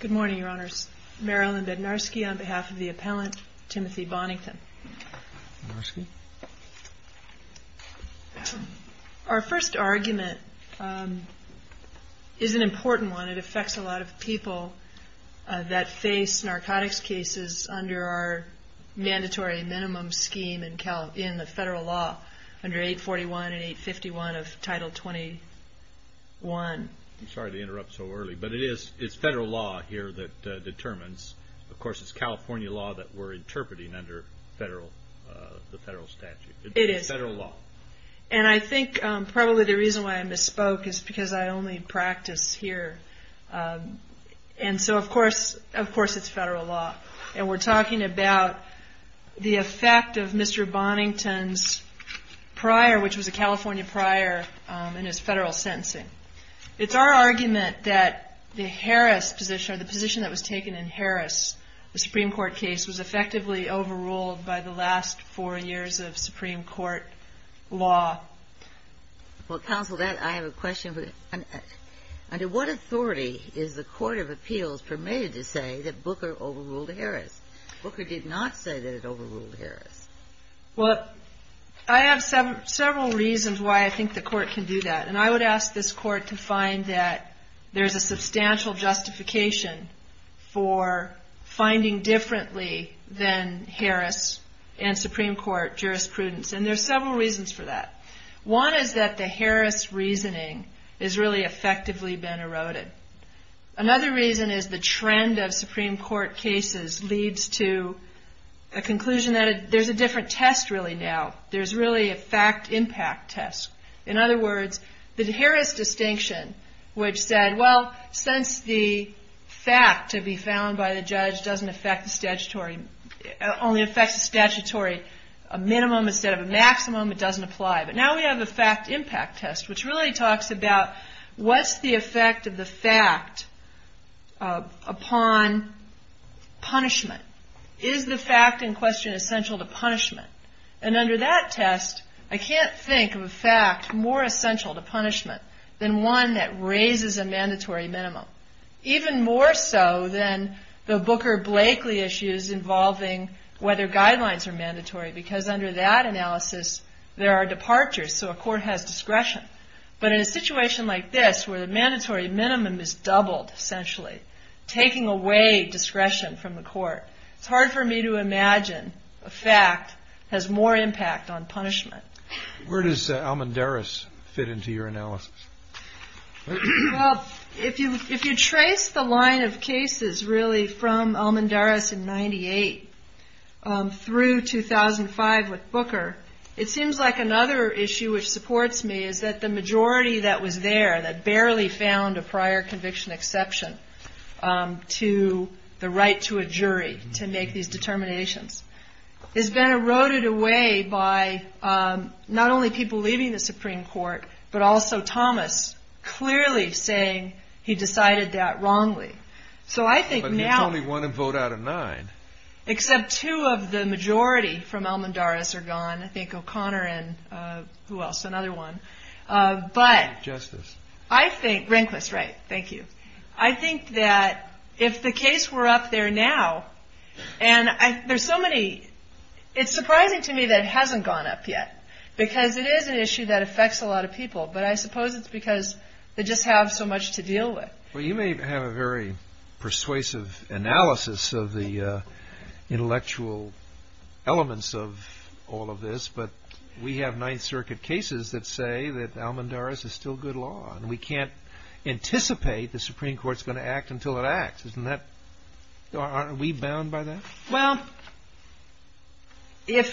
Good morning, Your Honors. Marilyn Bednarski on behalf of the appellant, Timothy Bonington. Our first argument is an important one. It affects a lot of people that face narcotics cases under our mandatory minimum scheme in the federal law under 841 and 851 of Title 21. I'm sorry to interrupt so early, but it is federal law here that determines. Of course, it's California law that we're interpreting under the federal statute. It is. It's federal law. And I think probably the reason why I misspoke is because I only practice here. And so, of course, it's federal law. And we're talking about the effect of Mr. Bonington's prior, which was a California prior in his federal sentencing. It's our argument that the Harris position, or the position that was taken in Harris, the Supreme Court case, was effectively overruled by the last four years of Supreme Court law. Well, Counsel, I have a question. Under what authority is the Court of Appeals permitted to say that Booker overruled Harris? Booker did not say that it overruled Harris. Well, I have several reasons why I think the Court can do that. And I would ask this Court to find that there's a substantial justification for finding differently than Harris and Supreme Court jurisprudence. And there's several reasons for that. One is that the Harris reasoning has really effectively been eroded. Another reason is the trend of Supreme Court cases leads to a conclusion that there's a different test really now. There's really a fact-impact test. In other words, the Harris distinction, which said, well, since the fact to be found by the judge doesn't affect the statutory, only affects the statutory, a minimum instead of a maximum, it doesn't apply. But now we have a fact-impact test, which really talks about what's the effect of the fact upon punishment. Is the fact in question essential to punishment? And under that test, I can't think of a fact more essential to punishment than one that raises a mandatory minimum. Even more so than the Booker-Blakely issues involving whether guidelines are mandatory, because under that analysis, there are departures, so a court has discretion. But in a situation like this, where the mandatory minimum is doubled essentially, taking away discretion from the court, it's hard for me to imagine a fact has more impact on punishment. Where does Almendaris fit into your analysis? Well, if you trace the line of cases really from Almendaris in 98 through 2005 with Booker, it seems like another issue which supports me is that the majority that was there, that barely found a prior conviction exception to the right to a jury to make these determinations, has been eroded away by not only people leaving the Supreme Court, but also Thomas clearly saying he decided that wrongly. So I think now... But it's only one vote out of nine. Except two of the majority from Almendaris are gone. I think O'Connor and who else, another one. But I think, Rehnquist, right, thank you. I think that if the case were up there now, and there's so many, it's surprising to me that it hasn't gone up yet, because it is an issue that affects a lot of people, but I suppose it's because they just have so much to deal with. You may have a very persuasive analysis of the intellectual elements of all of this, but we have Ninth Circuit cases that say that Almendaris is still good law, and we can't anticipate the Supreme Court's going to act until it acts. Aren't we bound by that? Well, if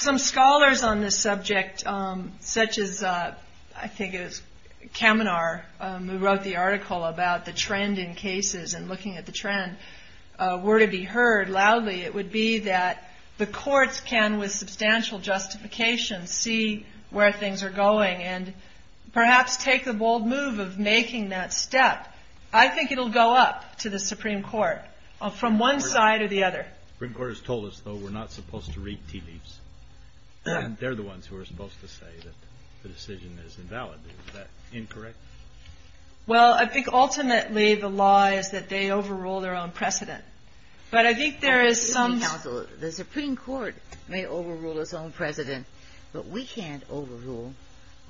some scholars on this subject, such as, I think it was Kaminar, a movement in which he wrote the article about the trend in cases, and looking at the trend, were to be heard loudly, it would be that the courts can, with substantial justification, see where things are going, and perhaps take the bold move of making that step. I think it'll go up to the Supreme Court, from one side or the other. The Supreme Court has told us, though, we're not supposed to read tea leaves. They're the Well, I think ultimately the law is that they overrule their own precedent. But I think there is some The Supreme Court may overrule its own precedent, but we can't overrule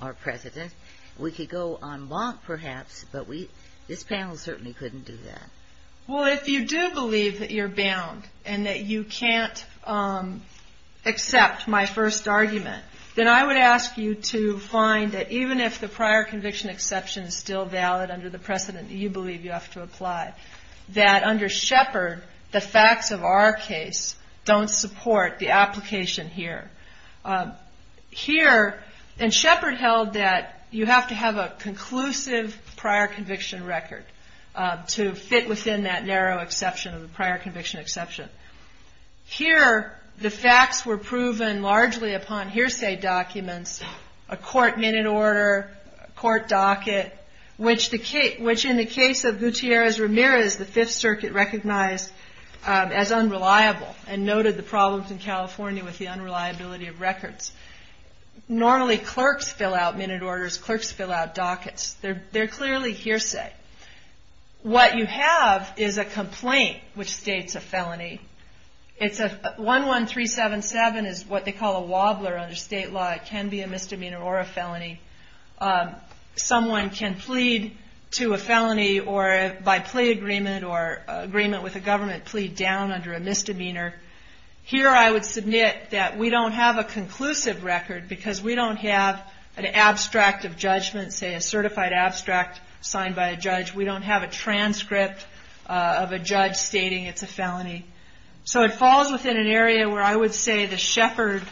our precedent. We could go en banc, perhaps, but this panel certainly couldn't do that. Well, if you do believe that you're bound, and that you can't accept my first argument, then I would ask you to find that even if the prior conviction exception is still valid under the precedent that you believe you have to apply, that under Shepard, the facts of our case don't support the application here. Here, and Shepard held that you have to have a conclusive prior conviction record to fit within that narrow exception of the prior conviction exception. Here, the facts were proven largely upon hearsay documents, a court minute order, a court docket, which in the case of Gutierrez-Ramirez, the Fifth Circuit recognized as unreliable and noted the problems in California with the unreliability of records. Normally clerks fill out minute orders, clerks fill out dockets. They're clearly hearsay. What you have is a complaint which states a felony. 11377 is what they call a wobbler under state law. It can be a misdemeanor or a felony. Someone can plead to a felony by plea agreement or agreement with the government, plead down under a misdemeanor. Here I would submit that we don't have a conclusive record because we don't have an abstract of a judge. We don't have a transcript of a judge stating it's a felony. So it falls within an area where I would say the Shepard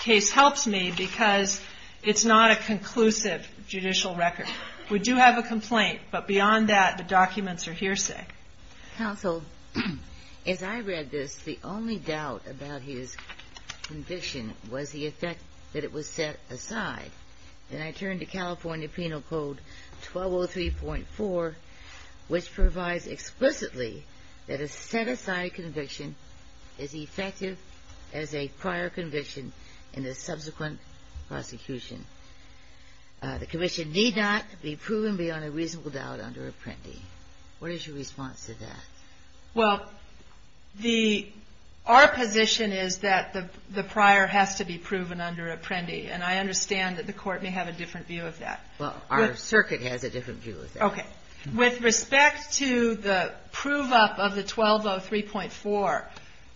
case helps me because it's not a conclusive judicial record. We do have a complaint, but beyond that, the documents are hearsay. Counsel, as I read this, the only doubt about his conviction was the effect that it was set aside. Then I turn to California Penal Code 1203.4, which provides explicitly that a set-aside conviction is effective as a prior conviction in the subsequent prosecution. The commission need not be proven beyond a reasonable doubt under Apprendi. What is your response to that? Well, our position is that the prior has to be proven under Apprendi, and I understand that the court may have a different view of that. Well, our circuit has a different view of that. With respect to the prove-up of the 1203.4,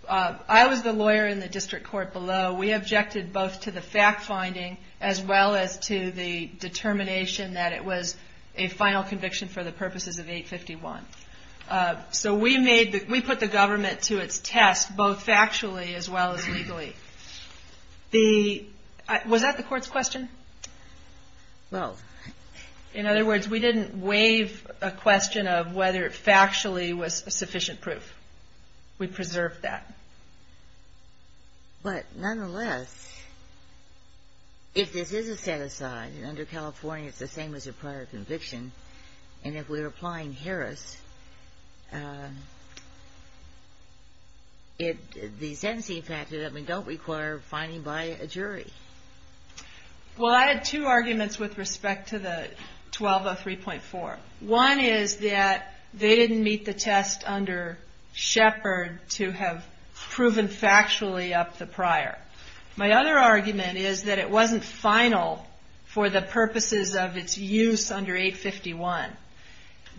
I was the lawyer in the district court below. We objected both to the fact-finding as well as to the determination that it was a final conviction for the purposes of 851. So we made the – we put the government to its test both factually as well as legally. The – was that the court's question? Well – In other words, we didn't waive a question of whether it factually was sufficient proof. We preserved that. But nonetheless, if this is a set-aside, and under California it's the same as a prior and if we're applying Harris, it – the sentencing factor that we don't require finding by a jury. Well, I had two arguments with respect to the 1203.4. One is that they didn't meet the test under Shepard to have proven factually up the prior. My other argument is that it was a final conviction for the purposes of 851.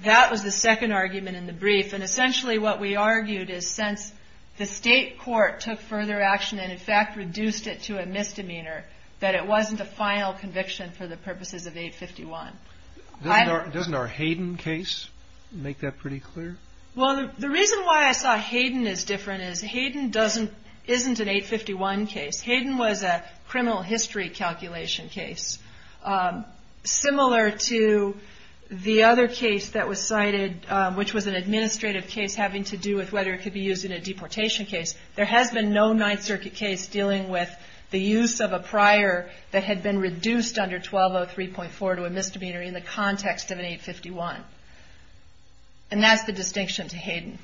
That was the second argument in the brief. And essentially what we argued is since the state court took further action and in fact reduced it to a misdemeanor, that it wasn't a final conviction for the purposes of 851. Doesn't our – doesn't our Hayden case make that pretty clear? Well, the reason why I saw Hayden as different is Hayden doesn't – isn't an 851 case. Hayden was a criminal history calculation case. Similar to the other case that was cited, which was an administrative case having to do with whether it could be used in a deportation case, there has been no Ninth Circuit case dealing with the use of a prior that had been reduced under 1203.4 to a misdemeanor in the context of an 851. And that's the distinction to Hayden.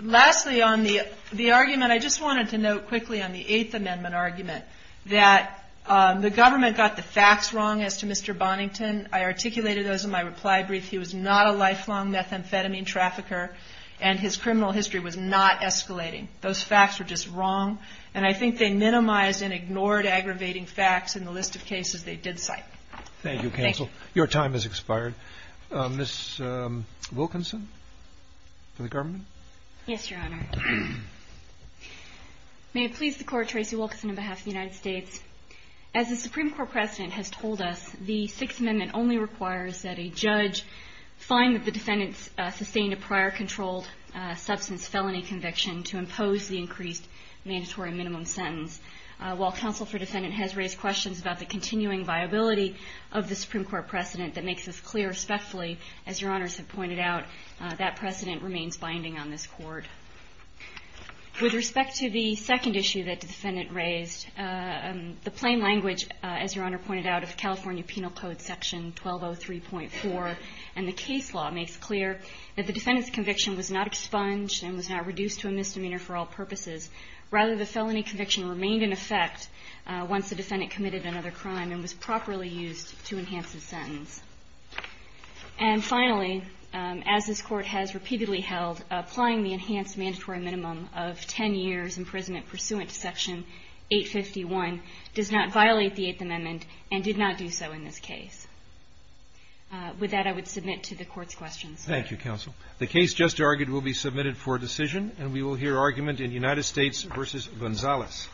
Lastly on the argument, I just wanted to note quickly on the Eighth Amendment argument that the government got the facts wrong as to Mr. Bonington. I articulated those in my reply brief. He was not a lifelong methamphetamine trafficker and his criminal history was not escalating. Those facts were just wrong. And I think they minimized and ignored aggravating facts in the list of cases they did cite. Thank you, counsel. Your time has expired. Ms. Wilkinson for the government. Yes, Your Honor. May it please the Court, Tracy Wilkinson on behalf of the United States. As the Supreme Court precedent has told us, the Sixth Amendment only requires that a judge find that the defendant sustained a prior controlled substance felony conviction to impose the increased mandatory minimum sentence. While counsel for defendant has raised questions about the continuing viability of the Supreme Court precedent that makes this clear respectfully, as Your Honors have pointed out, that precedent remains binding on this Court. With respect to the second issue that the defendant raised, the plain language, as Your Honor pointed out, of California Penal Code Section 1203.4 and the case law makes clear that the defendant's conviction was not expunged and was not reduced to a misdemeanor for all other crime and was properly used to enhance the sentence. And finally, as this Court has repeatedly held, applying the enhanced mandatory minimum of 10 years imprisonment pursuant to Section 851 does not violate the Eighth Amendment and did not do so in this case. With that, I would submit to the Court's questions. Thank you, counsel. The case just argued will be submitted for decision, and we will hear argument in United States v. Gonzalez.